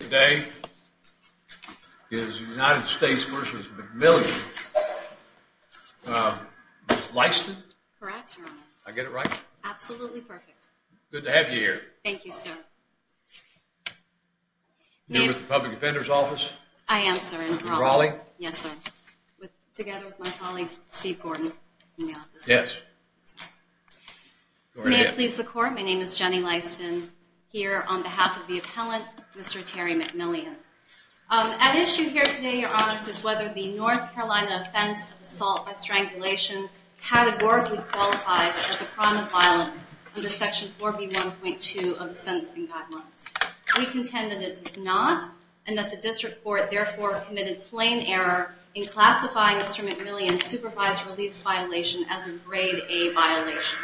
Today is United States v. McMillian. Ms. Lyston? Correct, Your Honor. I get it right? Absolutely perfect. Good to have you here. Thank you, sir. You're with the Public Defender's Office? I am, sir. In Raleigh? Yes, sir. Together with my colleague, Steve Gordon, in the office. Yes. May it please the Court, my name is Jenny Lyston. Here on behalf of the appellant, Mr. Terry McMillian. At issue here today, Your Honor, is whether the North Carolina offense of assault by strangulation categorically qualifies as a crime of violence under Section 4B.1.2 of the Sentencing Guidelines. We contend that it does not, and that the District Court therefore committed plain error in classifying Mr. McMillian's supervised release violation as a Grade A violation.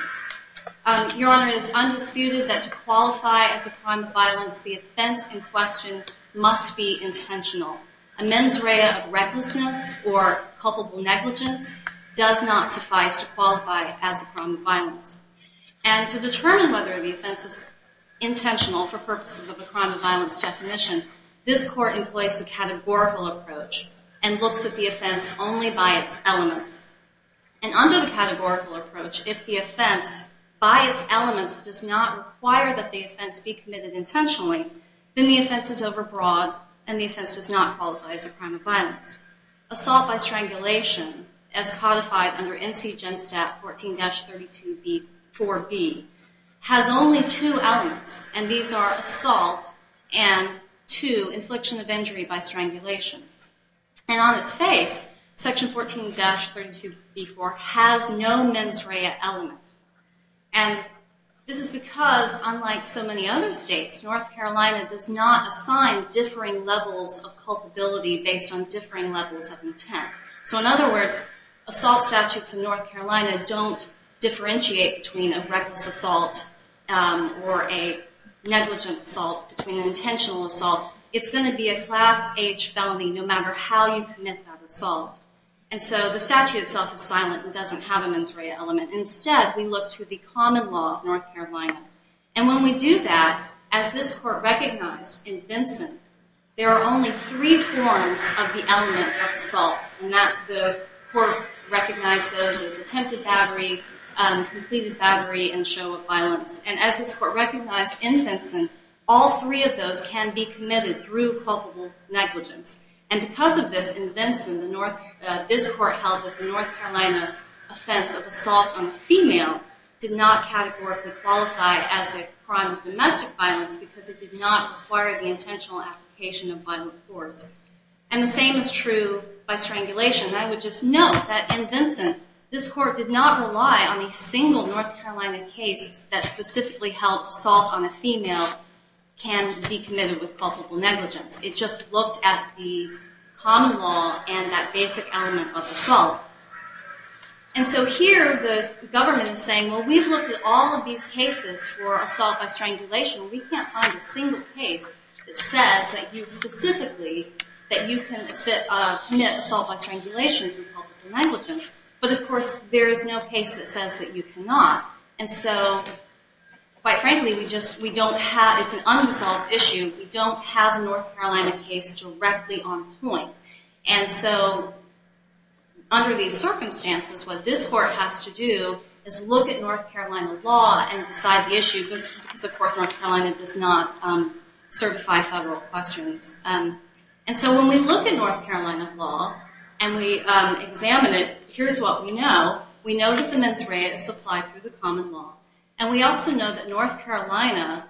Your Honor, it is undisputed that to qualify as a crime of violence, the offense in question must be intentional. A mens rea of recklessness or culpable negligence does not suffice to qualify as a crime of violence. And to determine whether the offense is intentional for purposes of a crime of violence definition, this Court employs the categorical approach and looks at the offense only by its elements. And under the categorical approach, if the offense, by its elements, does not require that the offense be committed intentionally, then the offense is overbroad and the offense does not qualify as a crime of violence. Assault by strangulation, as codified under NCGEN Stat 14-32b, 4B, has only two elements, and these are assault and two, infliction of injury by strangulation. And on its face, Section 14-32b, 4, has no mens rea element. And this is because, unlike so many other states, North Carolina does not assign differing levels of culpability based on differing levels of intent. So in other words, assault statutes in North Carolina don't differentiate between a reckless assault or a negligent assault, between an intentional assault. It's going to be a class-H felony no matter how you commit that assault. And so the statute itself is silent and doesn't have a mens rea element. Instead, we look to the common law of North Carolina. And when we do that, as this Court recognized in Vinson, there are only three forms of the element of assault, and the Court recognized those as attempted battery, completed battery, and show of violence. And as this Court recognized in Vinson, all three of those can be committed through culpable negligence. And because of this, in Vinson, this Court held that the North Carolina offense of assault on a female did not categorically qualify as a crime of domestic violence because it did not require the intentional application of violent force. And the same is true by strangulation. I would just note that in Vinson, this Court did not rely on a single North Carolina case that specifically held assault on a female can be committed with culpable negligence. It just looked at the common law and that basic element of assault. And so here, the government is saying, well, we've looked at all of these cases for assault by strangulation. We can't find a single case that says that you specifically, that you can commit assault by strangulation through culpable negligence. But of course, there is no case that says that you cannot. And so quite frankly, we just, we don't have, it's an unresolved issue. We don't have a North Carolina case directly on point. And so under these circumstances, what this Court has to do is look at North Carolina law and decide the issue because of course, North Carolina does not certify federal questions. And so when we look at North Carolina law and we examine it, here's what we know. We know that the mens rea is supplied through the common law. And we also know that North Carolina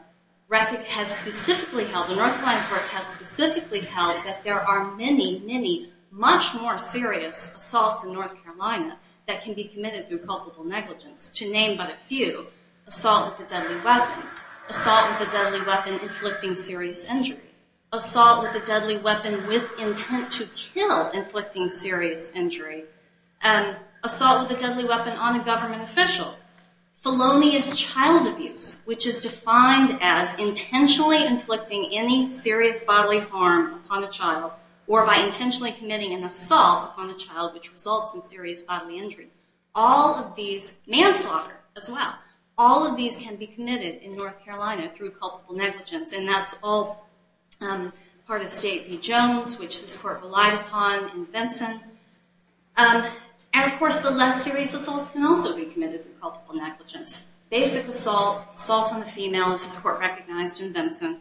has specifically held, the North Carolina courts have specifically held that there are many, many, much more serious assaults in North Carolina that can be committed through culpable negligence. To name but a few, assault with a deadly weapon, assault with a deadly weapon inflicting serious injury, assault with a deadly weapon with intent to kill inflicting serious injury, assault with a deadly weapon on a government official, felonious child abuse, which is defined as intentionally inflicting any serious bodily harm upon a child or by intentionally committing an assault upon a child which results in serious bodily injury. All of these, manslaughter as well. All of these can be committed in North Carolina through culpable negligence. And that's all part of State v. Jones, which this court relied upon in Vinson. And of course, the less serious assaults can also be committed through culpable negligence. Basic assault, assault on a female, as this court recognized in Vinson.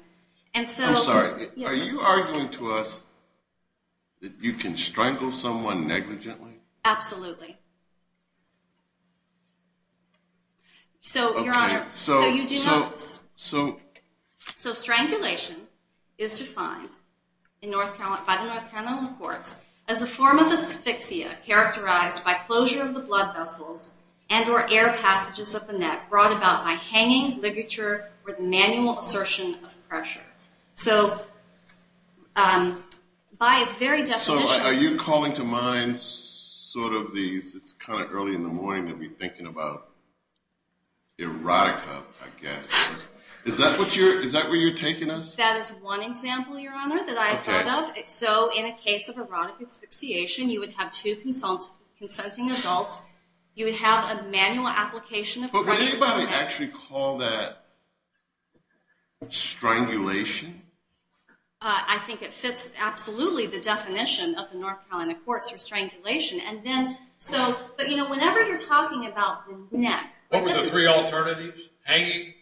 I'm sorry, are you arguing to us that you can strangle someone negligently? Absolutely. So, Your Honor, so strangulation is defined by the North Carolina courts as a form of asphyxia characterized by closure of the blood vessels and or air passages of the neck brought about by hanging, ligature, or the manual assertion of pressure. So by its very definition. Are you calling to mind sort of these, it's kind of early in the morning to be thinking about erotica, I guess. Is that where you're taking us? That is one example, Your Honor, that I have thought of. So in a case of erotic asphyxiation, you would have two consenting adults. You would have a manual application of pressure. But would anybody actually call that strangulation? I think it fits absolutely the definition of the North Carolina courts for strangulation. But you know, whenever you're talking about the neck. What were the three alternatives? Hanging?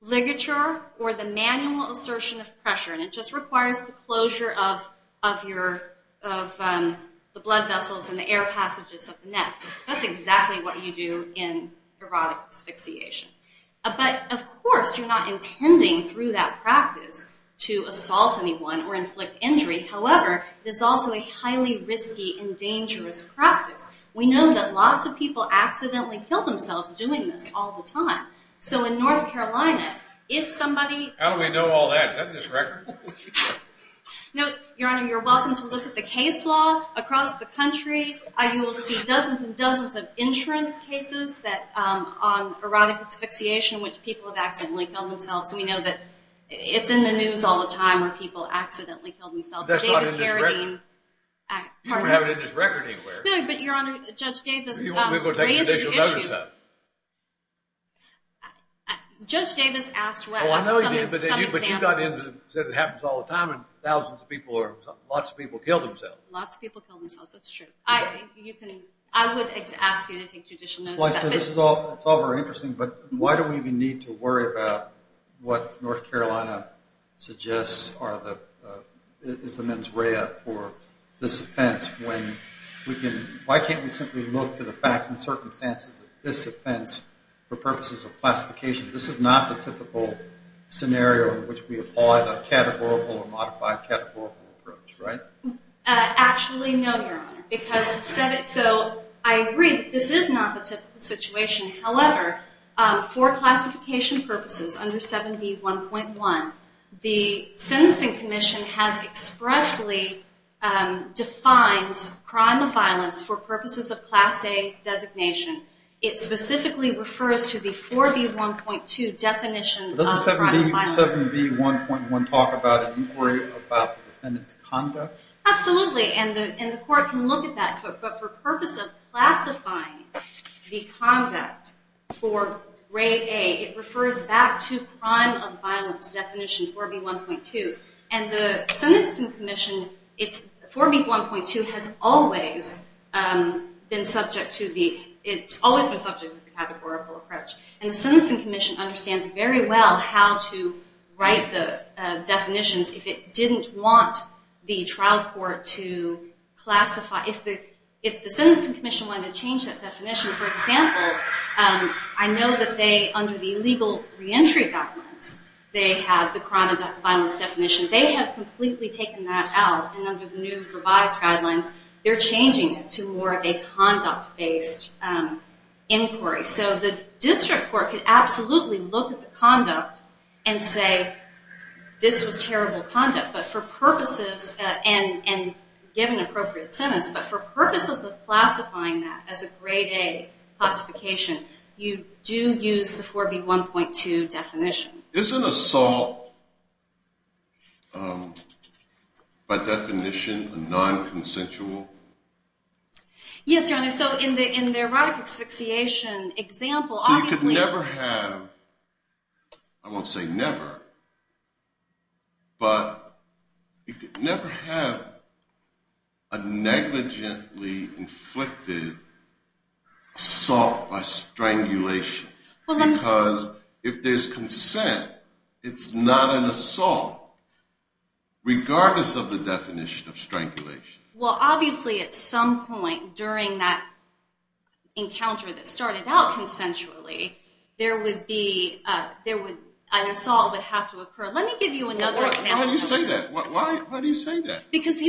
Ligature or the manual assertion of pressure. And it just requires the closure of the blood vessels and the air passages of the neck. That's exactly what you do in erotic asphyxiation. But, of course, you're not intending through that practice to assault anyone or inflict injury. However, it's also a highly risky and dangerous practice. We know that lots of people accidentally kill themselves doing this all the time. So in North Carolina, if somebody... How do we know all that? Is that in this record? No, Your Honor, you're welcome to look at the case law across the country. You will see dozens and dozens of insurance cases on erotic asphyxiation in which people have accidentally killed themselves. We know that it's in the news all the time where people accidentally kill themselves. Is that not in this record? You don't have it in this record anywhere. No, but, Your Honor, Judge Davis raised the issue. Judge Davis asked for some examples. Oh, I know he did, but you said it happens all the time and thousands of people or lots of people kill themselves. That's true. I would ask you to take judicial notice. This is all very interesting, but why do we even need to worry about what North Carolina suggests is the mens rea for this offense when we can... Why can't we simply look to the facts and circumstances of this offense for purposes of classification? This is not the typical scenario in which we apply the categorical or modified categorical approach, right? Actually, no, Your Honor, because I agree that this is not the typical situation. However, for classification purposes under 7B1.1, the Sentencing Commission has expressly defined crime of violence for purposes of Class A designation. It specifically refers to the 4B1.2 definition of crime of violence. Doesn't 7B1.1 talk about an inquiry about the defendant's conduct? Absolutely, and the court can look at that. But for purpose of classifying the conduct for Grade A, it refers back to crime of violence definition 4B1.2. And the Sentencing Commission, 4B1.2 has always been subject to the... It's always been subject to the categorical approach. And the Sentencing Commission understands very well how to write the definitions if it didn't want the trial court to classify... If the Sentencing Commission wanted to change that definition, for example, I know that they, under the illegal reentry documents, they have the crime of violence definition. They have completely taken that out, and under the new revised guidelines, they're changing it to more of a conduct-based inquiry. So the district court could absolutely look at the conduct and say, this was terrible conduct, but for purposes... And given appropriate sentence, but for purposes of classifying that as a Grade A classification, you do use the 4B1.2 definition. Isn't assault, by definition, a non-consensual... Yes, Your Honor, so in the erotic asphyxiation example, obviously... So you could never have, I won't say never, but you could never have a negligently inflicted assault by strangulation. Because if there's consent, it's not an assault, regardless of the definition of strangulation. Well, obviously, at some point during that encounter that started out consensually, an assault would have to occur. Let me give you another example. Why do you say that? Why do you say that? Because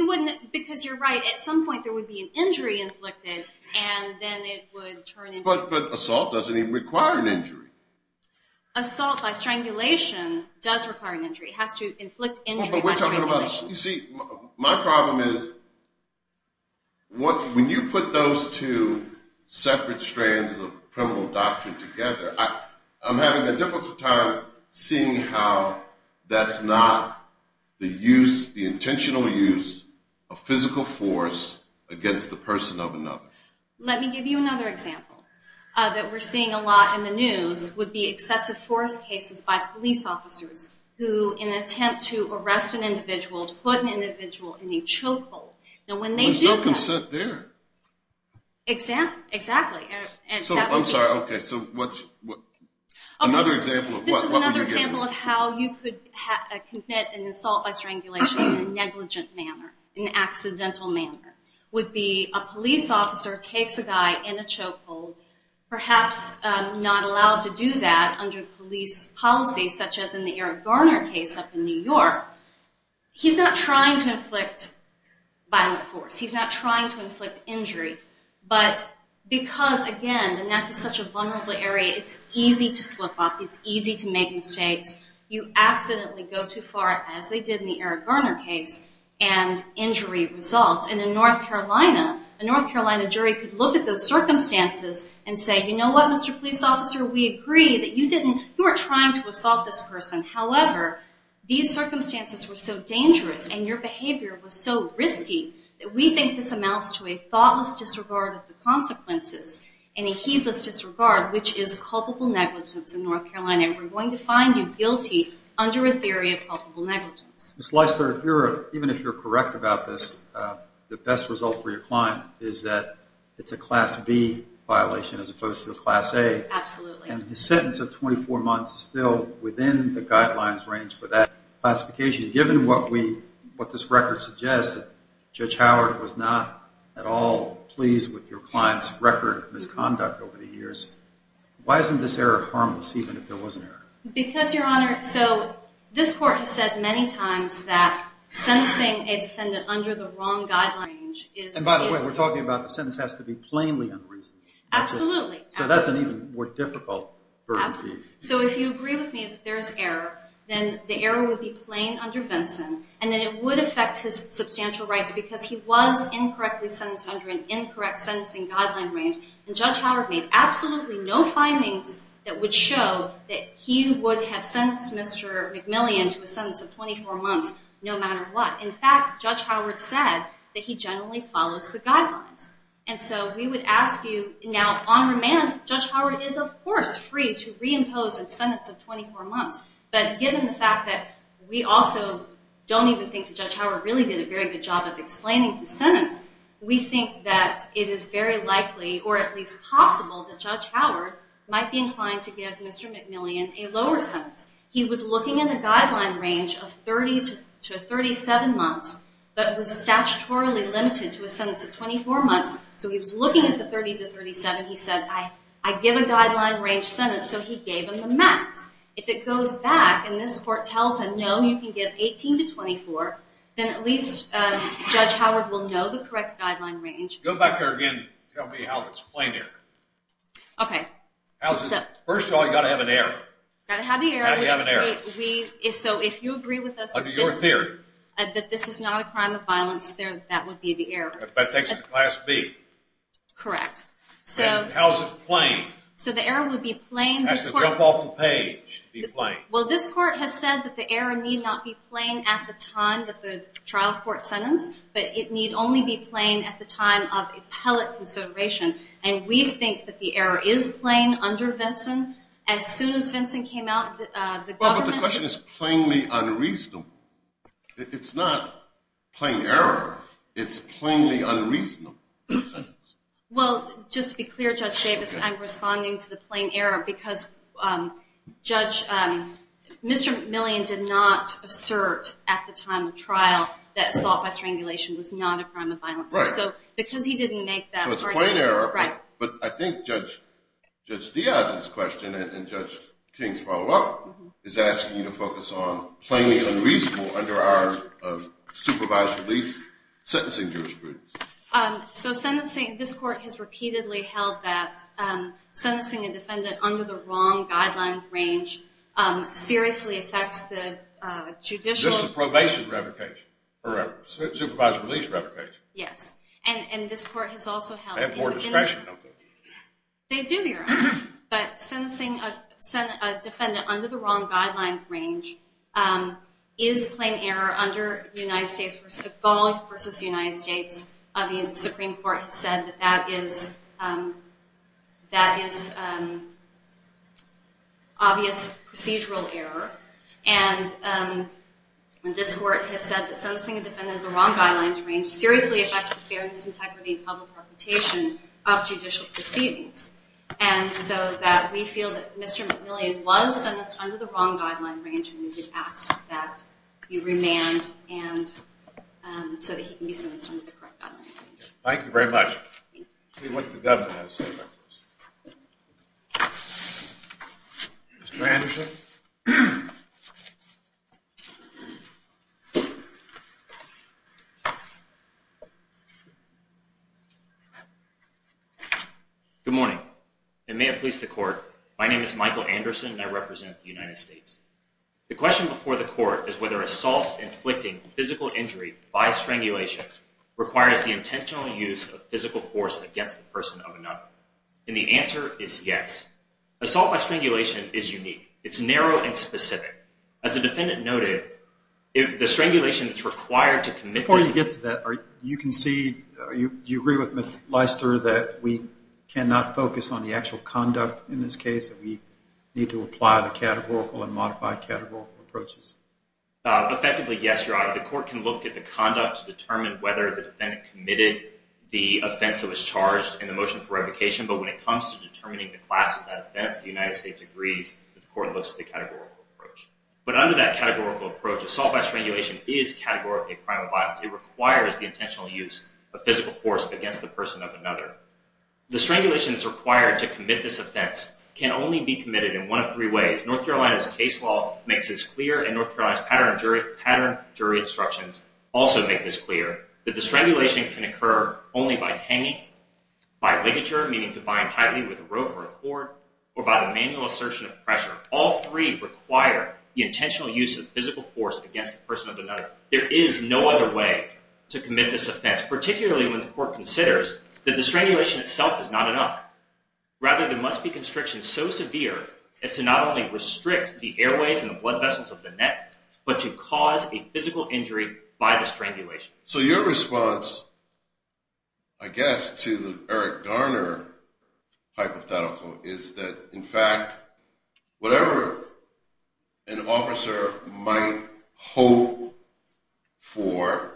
you're right. At some point, there would be an injury inflicted, and then it would turn into... But assault doesn't even require an injury. Assault by strangulation does require an injury. It has to inflict injury by strangulation. You see, my problem is when you put those two separate strands of criminal doctrine together, I'm having a difficult time seeing how that's not the use, the intentional use of physical force against the person of another. Let me give you another example that we're seeing a lot in the news, would be excessive force cases by police officers who, in an attempt to arrest an individual, to put an individual in a chokehold. There's no consent there. Exactly. I'm sorry. Okay. Another example of what would you give? This is another example of how you could commit an assault by strangulation in a negligent manner, in an accidental manner, would be a police officer takes a guy in a chokehold, perhaps not allowed to do that under police policy, such as in the Eric Garner case up in New York. He's not trying to inflict violent force. He's not trying to inflict injury. But because, again, the neck is such a vulnerable area, it's easy to slip up. It's easy to make mistakes. You accidentally go too far, as they did in the Eric Garner case, and injury results. And in North Carolina, a North Carolina jury could look at those circumstances and say, you know what, Mr. Police Officer, we agree that you didn't, you weren't trying to assault this person. However, these circumstances were so dangerous and your behavior was so risky that we think this amounts to a thoughtless disregard of the consequences and a heedless disregard, which is culpable negligence in North Carolina. And we're going to find you guilty under a theory of culpable negligence. Ms. Leisler, even if you're correct about this, the best result for your client is that it's a Class B violation as opposed to a Class A. Absolutely. And his sentence of 24 months is still within the guidelines range for that classification. Given what this record suggests, Judge Howard was not at all pleased with your client's record of misconduct over the years, why isn't this error harmless, even if there was an error? Because, Your Honor, so this court has said many times that sentencing a defendant under the wrong guideline range is- And by the way, we're talking about the sentence has to be plainly unreasonable. Absolutely. So that's an even more difficult burden to beat. So if you agree with me that there's error, then the error would be plain under Vinson, and then it would affect his substantial rights because he was incorrectly sentenced under an incorrect sentencing guideline range. And Judge Howard made absolutely no findings that would show that he would have sentenced Mr. McMillian to a sentence of 24 months no matter what. In fact, Judge Howard said that he generally follows the guidelines. And so we would ask you- Now, on remand, Judge Howard is, of course, free to reimpose a sentence of 24 months. But given the fact that we also don't even think that Judge Howard really did a very good job of explaining the sentence, we think that it is very likely, or at least possible, that Judge Howard might be inclined to give Mr. McMillian a lower sentence. He was looking at a guideline range of 30 to 37 months, but was statutorily limited to a sentence of 24 months. So he was looking at the 30 to 37. He said, I give a guideline range sentence, so he gave him the max. If it goes back and this court tells him, no, you can give 18 to 24, then at least Judge Howard will know the correct guideline range. Go back there again and tell me how it's plain error. Okay. First of all, you've got to have an error. Got to have the error. Got to have an error. So if you agree with us- Under your theory. That this is not a crime of violence, that would be the error. But that's class B. Correct. So- How's it plain? So the error would be plain. It has to drop off the page to be plain. Well, this court has said that the error need not be plain at the time that the trial court sentenced, but it need only be plain at the time of appellate consideration. And we think that the error is plain under Vinson. As soon as Vinson came out, the government- Well, but the question is plainly unreasonable. It's not plain error. It's plainly unreasonable. Well, just to be clear, Judge Davis, I'm responding to the plain error because Judge- Mr. McMillian did not assert at the time of trial that assault by strangulation was not a crime of violence. So because he didn't make that argument- So it's plain error. Right. But I think Judge Diaz's question and Judge King's follow-up is asking you to focus on plainly unreasonable under our supervised release sentencing jurisprudence. So this court has repeatedly held that sentencing a defendant under the wrong guideline range seriously affects the judicial- Just the probation revocation or supervised release revocation. Yes. And this court has also held- They have more discretion. They do, Your Honor. But sentencing a defendant under the wrong guideline range is plain error under United States- Evolved versus United States. The Supreme Court has said that that is obvious procedural error. And this court has said that sentencing a defendant in the wrong guidelines range seriously affects the fairness, integrity, and public reputation of judicial proceedings. And so that we feel that Mr. McMillian was sentenced under the wrong guideline range, and we would ask that he be remanded so that he can be sentenced under the correct guideline range. Thank you very much. Thank you. Let's see what the government has to say about this. Mr. Anderson? Good morning. And may it please the court, my name is Michael Anderson, and I represent the United States. The question before the court is whether assault inflicting physical injury by strangulation requires the intentional use of physical force against the person of another. And the answer is yes. Assault by strangulation is unique. It's narrow and specific. As the defendant noted, the strangulation that's required to commit this- Before you get to that, you can see, do you agree with Ms. Leister that we cannot focus on the actual conduct in this case, that we need to apply the categorical and modified categorical approaches? Effectively, yes, Your Honor. The court can look at the conduct to determine whether the defendant committed the offense that was charged in the motion for revocation. But when it comes to determining the class of that offense, the United States agrees that the court looks at the categorical approach. But under that categorical approach, assault by strangulation is categorically a crime of violence. It requires the intentional use of physical force against the person of another. The strangulation that's required to commit this offense can only be committed in one of three ways. North Carolina's case law makes this clear, and North Carolina's pattern jury instructions also make this clear, that the strangulation can occur only by hanging, by ligature, meaning to bind tightly with a rope or a cord, or by the manual assertion of pressure. All three require the intentional use of physical force against the person of another. There is no other way to commit this offense, particularly when the court considers that the strangulation itself is not enough. Rather, there must be constriction so severe as to not only restrict the airways and the blood vessels of the neck, but to cause a physical injury by the strangulation. So your response, I guess, to the Eric Garner hypothetical is that, in fact, whatever an officer might hope for,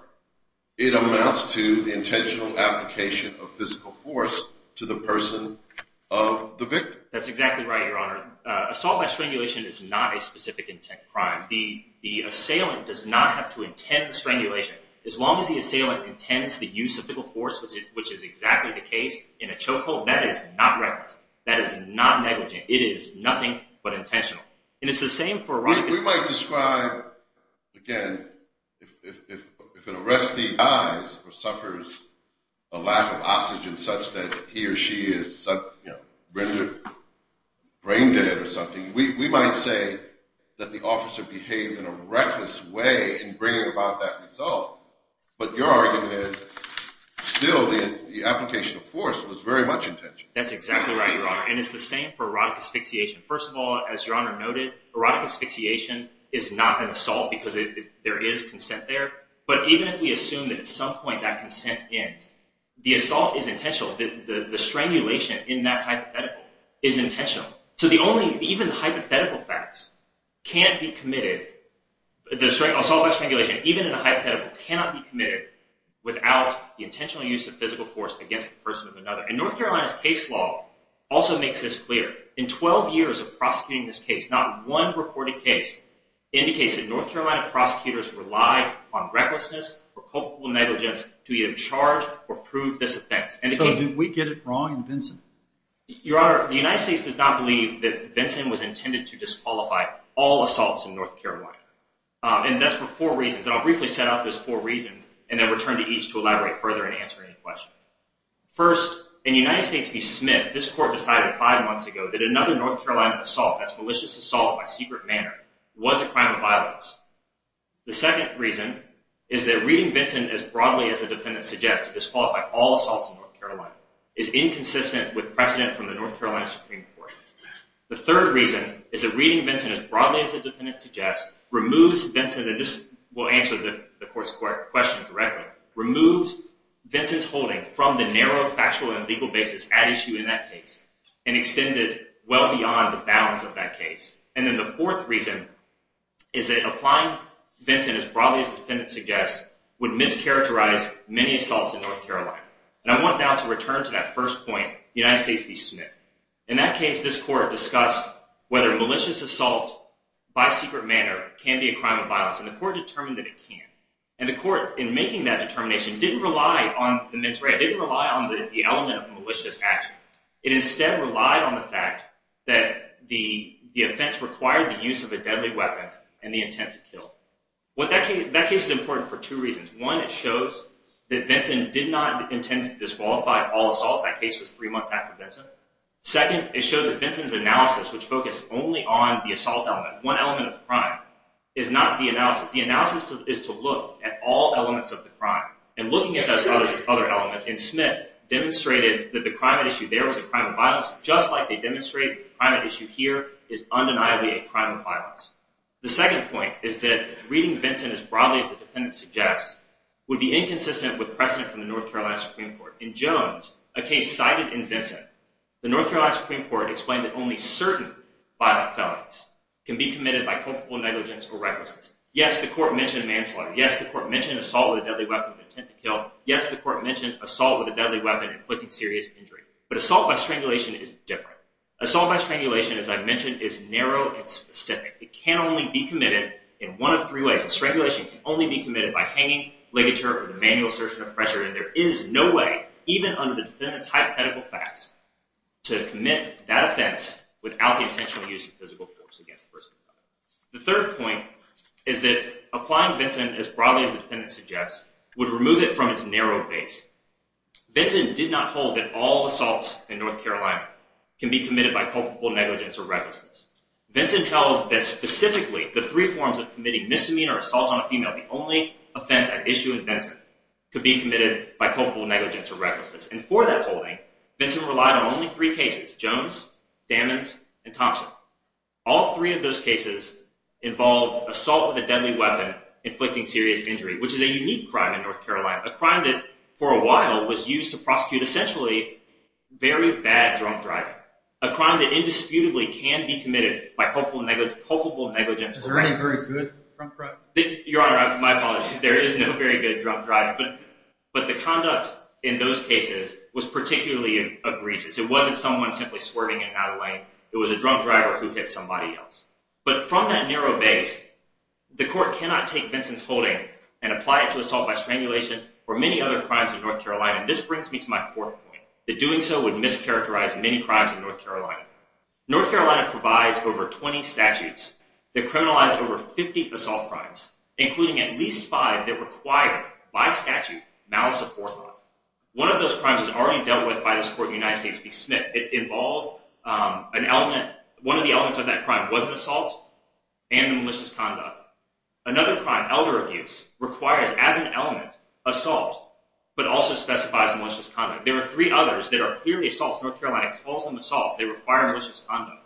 it amounts to the intentional application of physical force to the person of the victim. That's exactly right, Your Honor. Assault by strangulation is not a specific intent crime. The assailant does not have to intend the strangulation. As long as the assailant intends the use of physical force, which is exactly the case in a chokehold, that is not reckless. That is not negligent. It is nothing but intentional. We might describe, again, if an arrestee dies or suffers a lack of oxygen such that he or she is rendered brain dead or something, we might say that the officer behaved in a reckless way in bringing about that result. But your argument is still the application of force was very much intentional. That's exactly right, Your Honor. And it's the same for erotic asphyxiation. First of all, as Your Honor noted, erotic asphyxiation is not an assault because there is consent there. But even if we assume that at some point that consent ends, the assault is intentional. The strangulation in that hypothetical is intentional. So even the hypothetical facts can't be committed. The assault by strangulation, even in a hypothetical, cannot be committed without the intentional use of physical force against the person of another. And North Carolina's case law also makes this clear. In 12 years of prosecuting this case, not one reported case indicates that North Carolina prosecutors relied on recklessness or culpable negligence to either charge or prove this offense. So did we get it wrong in Vinson? Your Honor, the United States does not believe that Vinson was intended to disqualify all assaults in North Carolina. And that's for four reasons. And I'll briefly set out those four reasons and then return to each to elaborate further and answer any questions. First, in United States v. Smith, this court decided five months ago that another North Carolina assault, that's malicious assault by secret manner, was a crime of violence. The second reason is that reading Vinson as broadly as the defendant suggests to disqualify all assaults in North Carolina is inconsistent with precedent from the North Carolina Supreme Court. The third reason is that reading Vinson as broadly as the defendant suggests removes Vinson's, and this will answer the court's question directly, removes Vinson's holding from the narrow factual and legal basis at issue in that case and extends it well beyond the bounds of that case. And then the fourth reason is that applying Vinson as broadly as the defendant suggests would mischaracterize many assaults in North Carolina. And I want now to return to that first point, United States v. Smith. In that case, this court discussed whether malicious assault by secret manner can be a crime of violence. And the court determined that it can. And the court, in making that determination, didn't rely on the mens rea, didn't rely on the element of malicious action. It instead relied on the fact that the offense required the use of a deadly weapon and the intent to kill. That case is important for two reasons. One, it shows that Vinson did not intend to disqualify all assaults. That case was three months after Vinson. Second, it showed that Vinson's analysis, which focused only on the assault element, one element of the crime, is not the analysis. The analysis is to look at all elements of the crime. And looking at those other elements in Smith demonstrated that the crime at issue there was a crime of violence, just like they demonstrate the crime at issue here is undeniably a crime of violence. The second point is that reading Vinson as broadly as the defendant suggests would be inconsistent with precedent from the North Carolina Supreme Court. In Jones, a case cited in Vinson, the North Carolina Supreme Court explained that only certain violent felonies can be committed by culpable negligence or recklessness. Yes, the court mentioned manslaughter. Yes, the court mentioned assault with a deadly weapon with intent to kill. Yes, the court mentioned assault with a deadly weapon inflicting serious injury. But assault by strangulation is different. Assault by strangulation, as I mentioned, is narrow and specific. It can only be committed in one of three ways. Strangulation can only be committed by hanging, ligature, or the manual assertion of pressure. And there is no way, even under the defendant's hypothetical facts, to commit that offense without the intentional use of physical force against the person involved. The third point is that applying Vinson as broadly as the defendant suggests would remove it from its narrow base. Vinson did not hold that all assaults in North Carolina can be committed by culpable negligence or recklessness. Vinson held that specifically the three forms of committing misdemeanor assault on a female, the only offense at issue in Vinson, could be committed by culpable negligence or recklessness. And for that holding, Vinson relied on only three cases, Jones, Damons, and Thompson. All three of those cases involve assault with a deadly weapon inflicting serious injury, which is a unique crime in North Carolina, a crime that for a while was used to prosecute essentially very bad drunk driving. A crime that indisputably can be committed by culpable negligence or recklessness. Is there any very good drunk driving? Your Honor, my apologies. There is no very good drunk driving. But the conduct in those cases was particularly egregious. It wasn't someone simply swerving in and out of lanes. It was a drunk driver who hit somebody else. But from that narrow base, the court cannot take Vinson's holding and apply it to assault by strangulation or many other crimes in North Carolina. This brings me to my fourth point, that doing so would mischaracterize many crimes in North Carolina. North Carolina provides over 20 statutes that criminalize over 50 assault crimes, including at least five that require, by statute, malice of forethought. One of those crimes is already dealt with by this court in the United States v. Smith. It involved an element, one of the elements of that crime was an assault and malicious conduct. Another crime, elder abuse, requires, as an element, assault, but also specifies malicious conduct. There are three others that are clearly assaults. North Carolina calls them assaults. They require malicious conduct.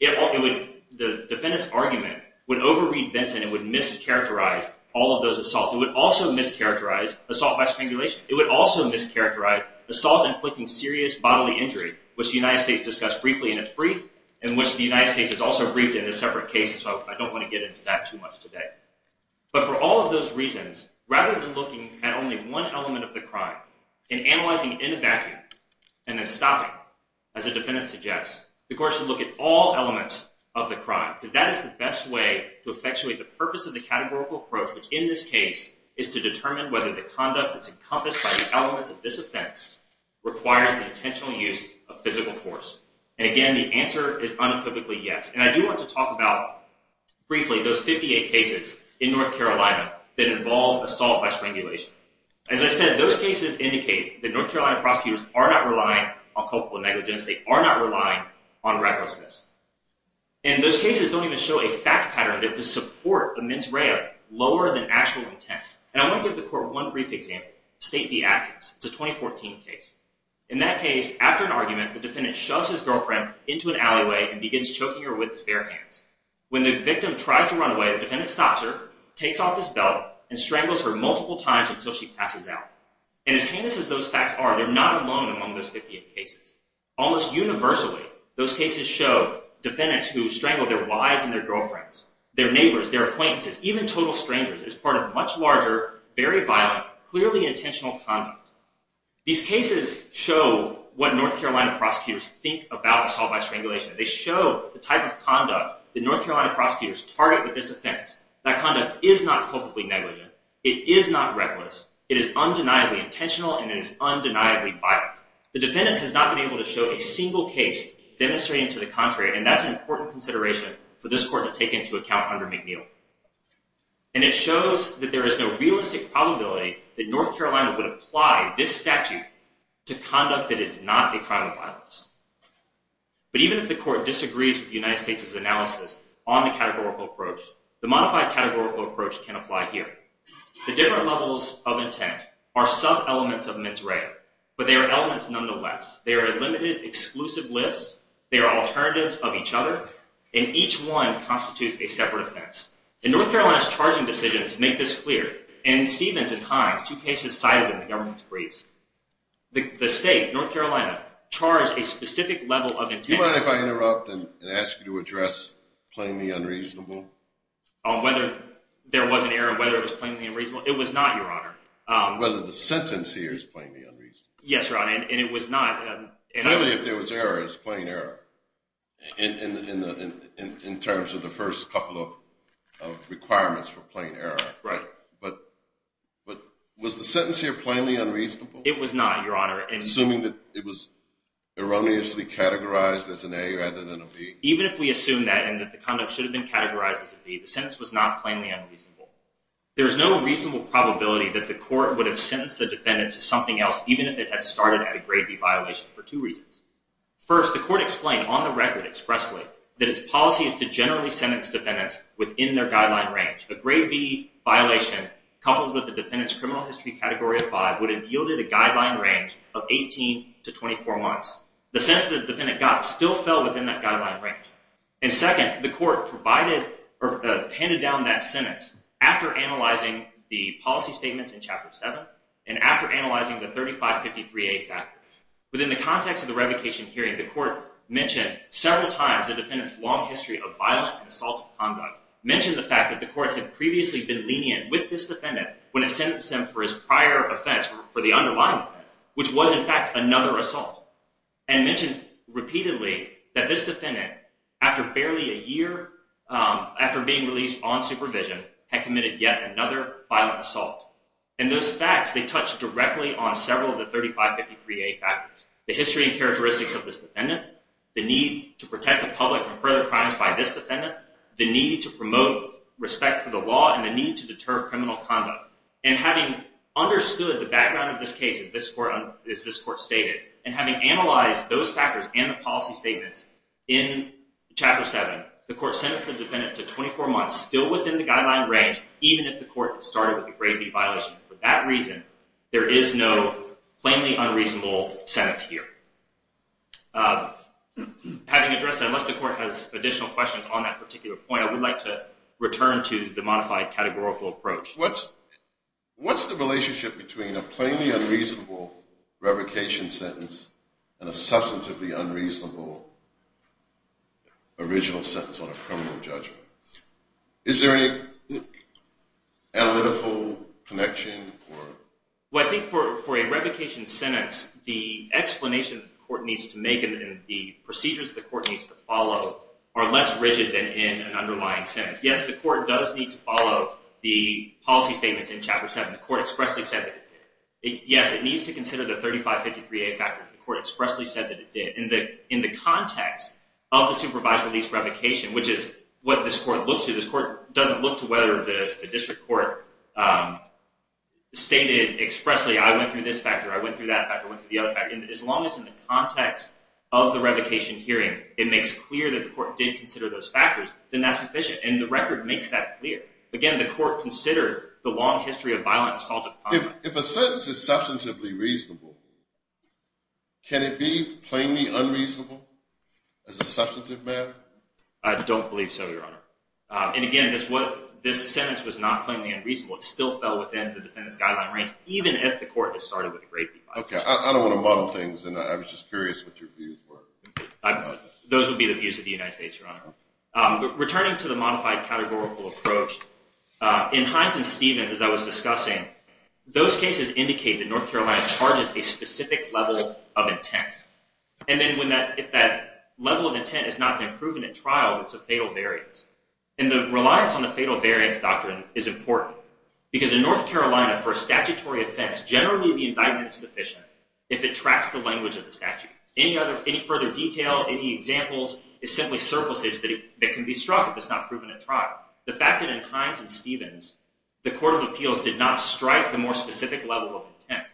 The defendant's argument would overread Vinson and would mischaracterize all of those assaults. It would also mischaracterize assault by strangulation. It would also mischaracterize assault inflicting serious bodily injury, which the United States discussed briefly in its brief, and which the United States has also briefed in a separate case, so I don't want to get into that too much today. But for all of those reasons, rather than looking at only one element of the crime and analyzing it in a vacuum and then stopping, as the defendant suggests, the court should look at all elements of the crime, because that is the best way to effectuate the purpose of the categorical approach, which in this case is to determine whether the conduct that's encompassed by the elements of this offense requires the intentional use of physical force. And again, the answer is unequivocally yes. And I do want to talk about, briefly, those 58 cases in North Carolina that involve assault by strangulation. As I said, those cases indicate that North Carolina prosecutors are not relying on culpable negligence. They are not relying on recklessness. And those cases don't even show a fact pattern that would support a mens rea lower than actual intent. And I want to give the court one brief example, State v. Atkins. It's a 2014 case. In that case, after an argument, the defendant shoves his girlfriend into an alleyway and begins choking her with his bare hands. When the victim tries to run away, the defendant stops her, takes off his belt, and strangles her multiple times until she passes out. And as heinous as those facts are, they're not alone among those 58 cases. Almost universally, those cases show defendants who strangle their wives and their girlfriends, their neighbors, their acquaintances, even total strangers, as part of much larger, very violent, clearly intentional conduct. These cases show what North Carolina prosecutors think about assault by strangulation. They show the type of conduct that North Carolina prosecutors target with this offense. That conduct is not culpably negligent. It is not reckless. It is undeniably intentional, and it is undeniably violent. The defendant has not been able to show a single case demonstrating to the contrary, and that's an important consideration for this court to take into account under McNeil. And it shows that there is no realistic probability that North Carolina would apply this statute to conduct that is not a crime of violence. But even if the court disagrees with the United States' analysis on the categorical approach, the modified categorical approach can apply here. The different levels of intent are sub-elements of mens rea, but they are elements nonetheless. They are a limited, exclusive list. They are alternatives of each other, and each one constitutes a separate offense. And North Carolina's charging decisions make this clear. In Stevens and Hines, two cases cited in the government's briefs, the state, North Carolina, charged a specific level of intent. Do you mind if I interrupt and ask you to address plainly unreasonable? Whether there was an error, whether it was plainly unreasonable? It was not, Your Honor. Whether the sentence here is plainly unreasonable. Yes, Your Honor, and it was not. Clearly, if there was error, it was plain error in terms of the first couple of requirements for plain error. Right. But was the sentence here plainly unreasonable? It was not, Your Honor. Assuming that it was erroneously categorized as an A rather than a B. Even if we assume that and that the conduct should have been categorized as a B, the sentence was not plainly unreasonable. There is no reasonable probability that the court would have sentenced the defendant to something else even if it had started at a grade B violation for two reasons. First, the court explained on the record expressly that its policy is to generally sentence defendants within their guideline range. A grade B violation coupled with the defendant's criminal history category of 5 would have yielded a guideline range of 18 to 24 months. The sentence that the defendant got still fell within that guideline range. And second, the court handed down that sentence after analyzing the policy statements in Chapter 7 and after analyzing the 3553A factors. Within the context of the revocation hearing, the court mentioned several times the defendant's long history of violent and assaultive conduct. Mentioned the fact that the court had previously been lenient with this defendant when it sentenced him for his prior offense, for the underlying offense, which was, in fact, another assault. And mentioned repeatedly that this defendant, after barely a year after being released on supervision, had committed yet another violent assault. And those facts, they touch directly on several of the 3553A factors. The history and characteristics of this defendant, the need to protect the public from further crimes by this defendant, the need to promote respect for the law, and the need to deter criminal conduct. And having understood the background of this case, as this court stated, and having analyzed those factors and the policy statements in Chapter 7, the court sentenced the defendant to 24 months, still within the guideline range, even if the court had started with the grade B violation. For that reason, there is no plainly unreasonable sentence here. Having addressed that, unless the court has additional questions on that particular point, I would like to return to the modified categorical approach. What's the relationship between a plainly unreasonable revocation sentence and a substantively unreasonable original sentence on a criminal judgment? Is there any analytical connection? Well, I think for a revocation sentence, the explanation the court needs to make and the procedures the court needs to follow are less rigid than in an underlying sentence. Yes, the court does need to follow the policy statements in Chapter 7. The court expressly said that it did. Yes, it needs to consider the 3553A factors. The court expressly said that it did. In the context of the supervised release revocation, which is what this court looks to, this court doesn't look to whether the district court stated expressly, I went through this factor, I went through that factor, I went through the other factor. As long as in the context of the revocation hearing, it makes clear that the court did consider those factors, then that's sufficient. And the record makes that clear. Again, the court considered the long history of violent assault. If a sentence is substantively reasonable, can it be plainly unreasonable as a substantive matter? I don't believe so, Your Honor. And again, this sentence was not plainly unreasonable. It still fell within the defendant's guideline range, even if the court had started with a grade B violation. Okay, I don't want to muddle things, and I was just curious what your views were. Those would be the views of the United States, Your Honor. Returning to the modified categorical approach, in Hines and Stevens, as I was discussing, those cases indicate that North Carolina charges a specific level of intent. And then if that level of intent has not been proven at trial, it's a fatal variance. And the reliance on the fatal variance doctrine is important, because in North Carolina, for a statutory offense, generally the indictment is sufficient if it tracks the language of the statute. Any further detail, any examples, is simply surplusage that can be struck if it's not proven at trial. The fact that in Hines and Stevens, the Court of Appeals did not strike the more specific level of intent,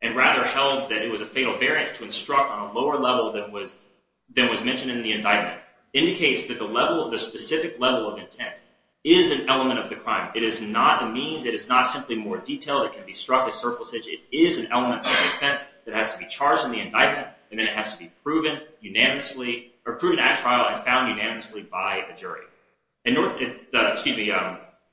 and rather held that it was a fatal variance to instruct on a lower level than was mentioned in the indictment, indicates that the specific level of intent is an element of the crime. It is not a means, it is not simply more detail that can be struck as surplusage. It is an element of the offense that has to be charged in the indictment, and then it has to be proven at trial and found unanimously by a jury.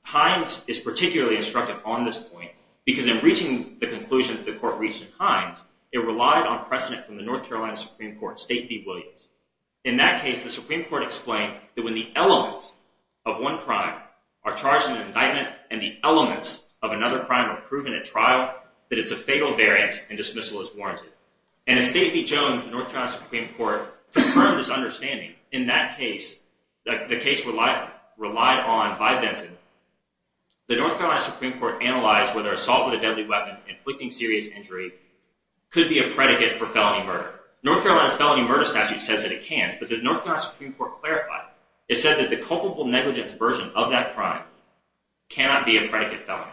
Hines is particularly instructive on this point, because in reaching the conclusion that the Court reached in Hines, it relied on precedent from the North Carolina Supreme Court, State v. Williams. In that case, the Supreme Court explained that when the elements of one crime are charged in an indictment, and the elements of another crime are proven at trial, that it's a fatal variance and dismissal is warranted. And as State v. Jones and the North Carolina Supreme Court confirmed this understanding, in that case, the case relied on by Benson, the North Carolina Supreme Court analyzed whether assault with a deadly weapon, inflicting serious injury, could be a predicate for felony murder. North Carolina's felony murder statute says that it can, but the North Carolina Supreme Court clarified, it said that the culpable negligence version of that crime cannot be a predicate felony.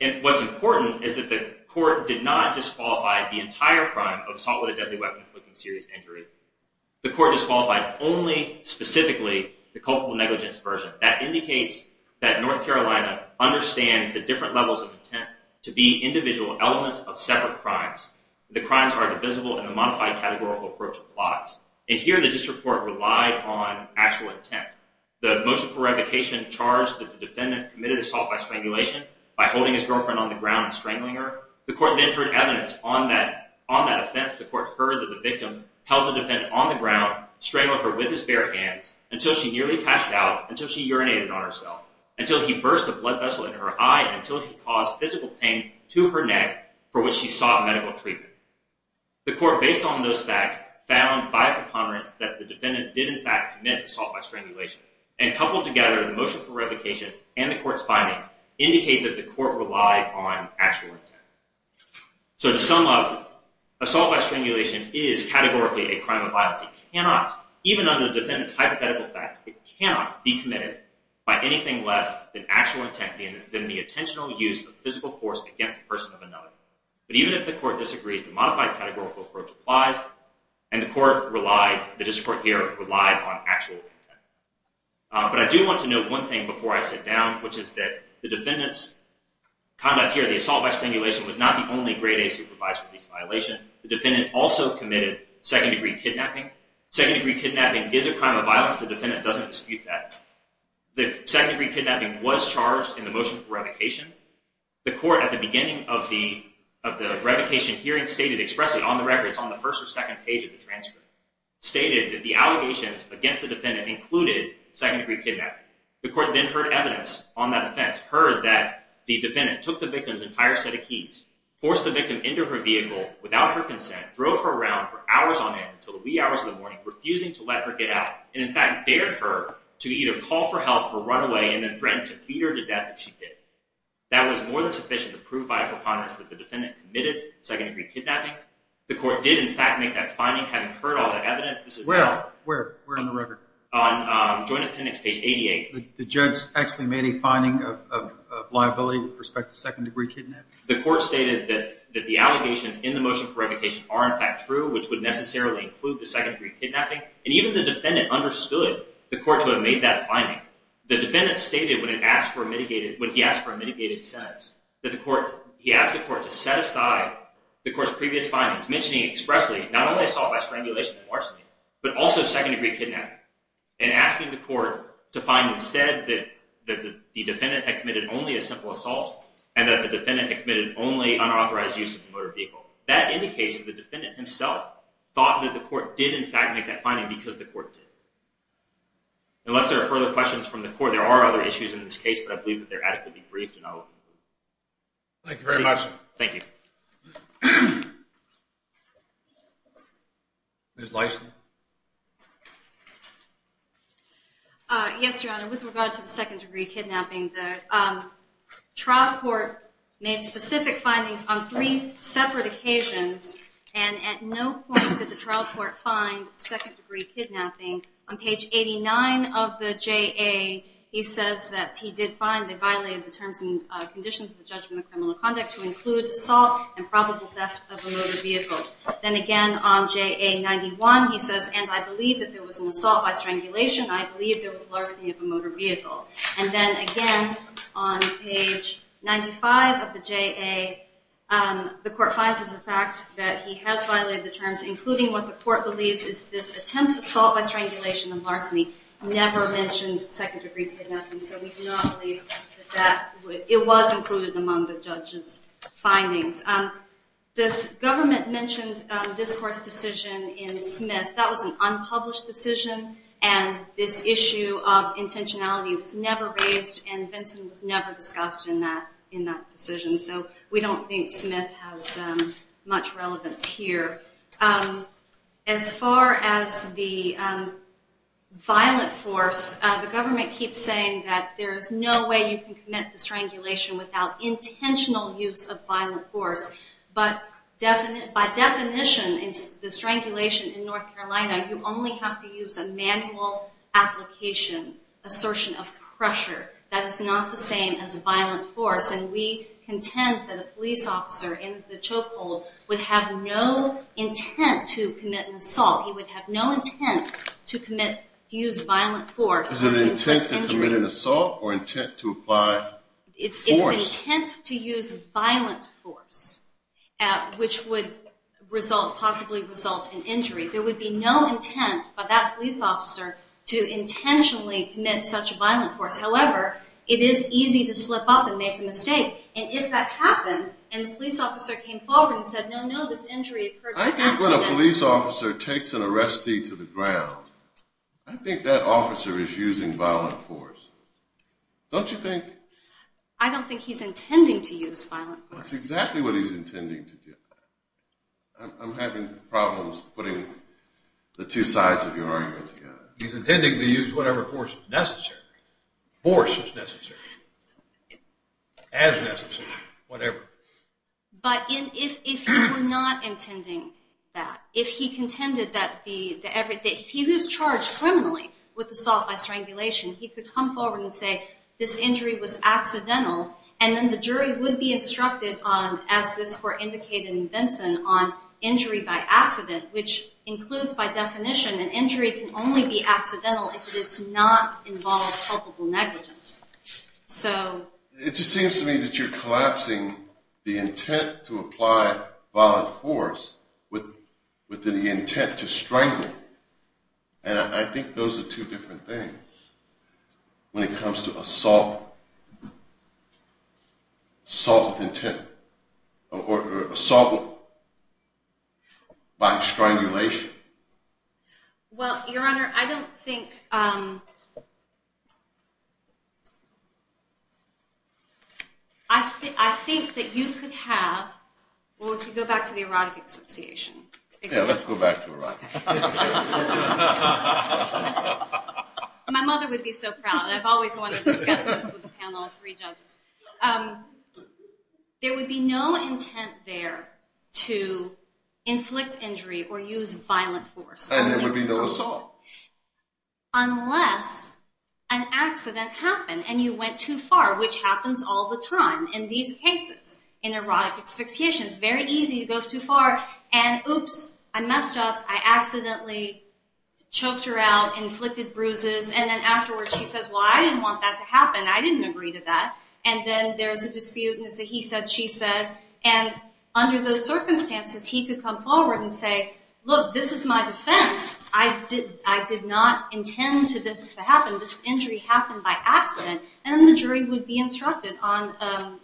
And what's important is that the Court did not disqualify the entire crime of assault with a deadly weapon, inflicting serious injury. The Court disqualified only, specifically, the culpable negligence version. That indicates that North Carolina understands the different levels of intent to be individual elements of separate crimes. The crimes are divisible, and a modified categorical approach applies. And here, the District Court relied on actual intent. The motion for revocation charged that the defendant committed assault by strangulation, by holding his girlfriend on the ground and strangling her. The Court then heard evidence on that offense. The Court heard that the victim held the defendant on the ground, strangled her with his bare hands, until she nearly passed out, until she urinated on herself, until he burst a blood vessel in her eye, until he caused physical pain to her neck, for which she sought medical treatment. The Court, based on those facts, found by a preponderance that the defendant did, in fact, commit assault by strangulation. And coupled together, the motion for revocation and the Court's findings indicate that the Court relied on actual intent. So to sum up, assault by strangulation is categorically a crime of violence. It cannot, even under the defendant's hypothetical facts, it cannot be committed by anything less than actual intent, than the intentional use of physical force against the person of another. But even if the Court disagrees, the modified categorical approach applies, and the Court relied, the District Court here, relied on actual intent. But I do want to note one thing before I sit down, which is that the defendant's conduct here, the assault by strangulation, was not the only Grade A supervised release violation. The defendant also committed second-degree kidnapping. Second-degree kidnapping is a crime of violence. The defendant doesn't dispute that. The second-degree kidnapping was charged in the motion for revocation. The Court, at the beginning of the revocation hearing, stated, expressed it on the records on the first or second page of the transcript, stated that the allegations against the defendant included second-degree kidnapping. The Court then heard evidence on that offense, heard that the defendant took the victim's entire set of keys, forced the victim into her vehicle without her consent, drove her around for hours on end until the wee hours of the morning, refusing to let her get out, and in fact dared her to either call for help or run away, and then threatened to beat her to death if she did. That was more than sufficient to prove by a preponderance that the defendant committed second-degree kidnapping. The Court did, in fact, make that finding, having heard all that evidence. Well, where? Where on the record? On Joint Appendix page 88. The judge actually made a finding of liability with respect to second-degree kidnapping? The Court stated that the allegations in the motion for revocation are, in fact, true, which would necessarily include the second-degree kidnapping, and even the defendant understood the Court to have made that finding. The defendant stated, when he asked for a mitigated sentence, that he asked the Court to set aside the Court's previous findings, mentioning expressly not only assault by strangulation and larceny, but also second-degree kidnapping, and asking the Court to find instead that the defendant had committed only a simple assault and that the defendant had committed only unauthorized use of a motor vehicle. That indicates that the defendant himself thought that the Court did, in fact, make that finding, because the Court did. Unless there are further questions from the Court, there are other issues in this case, but I believe that they're adequately briefed, and I'll conclude. Thank you very much. Thank you. Ms. Lison? Yes, Your Honor. With regard to the second-degree kidnapping, the trial court made specific findings on three separate occasions, and at no point did the trial court find second-degree kidnapping. On page 89 of the JA, he says that he did find they violated the terms and conditions of the judgment of criminal conduct to include assault and probable theft of a motor vehicle. Then again on JA 91, he says, and I believe that there was an assault by strangulation, I believe there was larceny of a motor vehicle. And then again on page 95 of the JA, the Court finds as a fact that he has violated the terms, including what the Court believes is this attempt to assault by strangulation and larceny. Never mentioned second-degree kidnapping, so we do not believe that it was included among the judge's findings. This government mentioned this Court's decision in Smith. That was an unpublished decision, and this issue of intentionality was never raised, and Vincent was never discussed in that decision. So we don't think Smith has much relevance here. As far as the violent force, the government keeps saying that there is no way you can commit the strangulation without intentional use of violent force. But by definition, the strangulation in North Carolina, you only have to use a manual application assertion of pressure. That is not the same as violent force, and we contend that a police officer in the chokehold would have no intent to commit an assault. He would have no intent to use violent force. Is it intent to commit an assault or intent to apply force? It's intent to use violent force, which would possibly result in injury. There would be no intent by that police officer to intentionally commit such violent force. However, it is easy to slip up and make a mistake, and if that happened and the police officer came forward and said, no, no, this injury occurred by accident. I think when a police officer takes an arrestee to the ground, I think that officer is using violent force. Don't you think? I don't think he's intending to use violent force. That's exactly what he's intending to do. I'm having problems putting the two sides of your argument together. He's intending to use whatever force is necessary. Force is necessary. As necessary. Whatever. But if he were not intending that, if he contended that he was charged criminally with assault by strangulation, he could come forward and say, this injury was accidental, and then the jury would be instructed on, as this court indicated in Benson, on injury by accident, which includes by definition, an injury can only be accidental if it does not involve culpable negligence. It just seems to me that you're collapsing the intent to apply violent force with the intent to strangle. And I think those are two different things when it comes to assault with intent or assault by strangulation. Well, Your Honor, I don't think... I think that you could have... Well, if you go back to the erotic association. Yeah, let's go back to erotic. My mother would be so proud. I've always wanted to discuss this with the panel of three judges. There would be no intent there to inflict injury or use violent force. And there would be no assault. Unless an accident happened and you went too far, which happens all the time in these cases, in erotic associations. It's very easy to go too far and, oops, I messed up. I accidentally choked her out, inflicted bruises. And then afterwards she says, well, I didn't want that to happen. I didn't agree to that. And then there's a dispute and it's a he said, she said. And under those circumstances, he could come forward and say, look, this is my defense. I did not intend for this to happen. And then the jury would be instructed on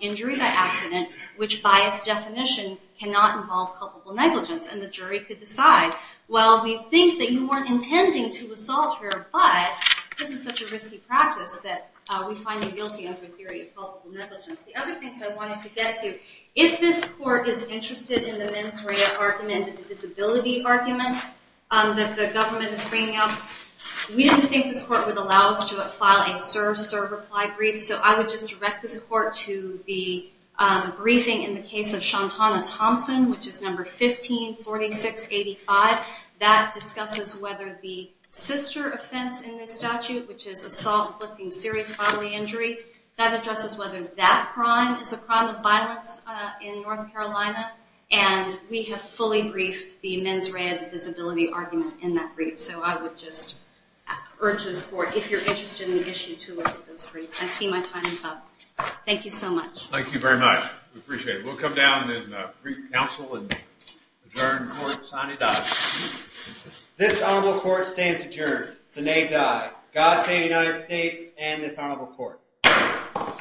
injury by accident, which by its definition cannot involve culpable negligence. And the jury could decide, well, we think that you weren't intending to assault her, but this is such a risky practice that we find you guilty under the theory of culpable negligence. The other things I wanted to get to, if this court is interested in the mens rea argument, the disability argument that the government is bringing up, we didn't think this court would allow us to file a serve-serve reply brief. So I would just direct this court to the briefing in the case of Shantana Thompson, which is number 154685. That discusses whether the sister offense in this statute, which is assault inflicting serious bodily injury, that addresses whether that crime is a crime of violence in North Carolina. And we have fully briefed the mens rea disability argument in that brief. So I would just urge this court, if you're interested in the issue to look at those briefs. I see my time is up. Thank you so much. Thank you very much. We appreciate it. We'll come down and brief counsel and adjourn court. This honorable court stands adjourned. God save the United States and this honorable court.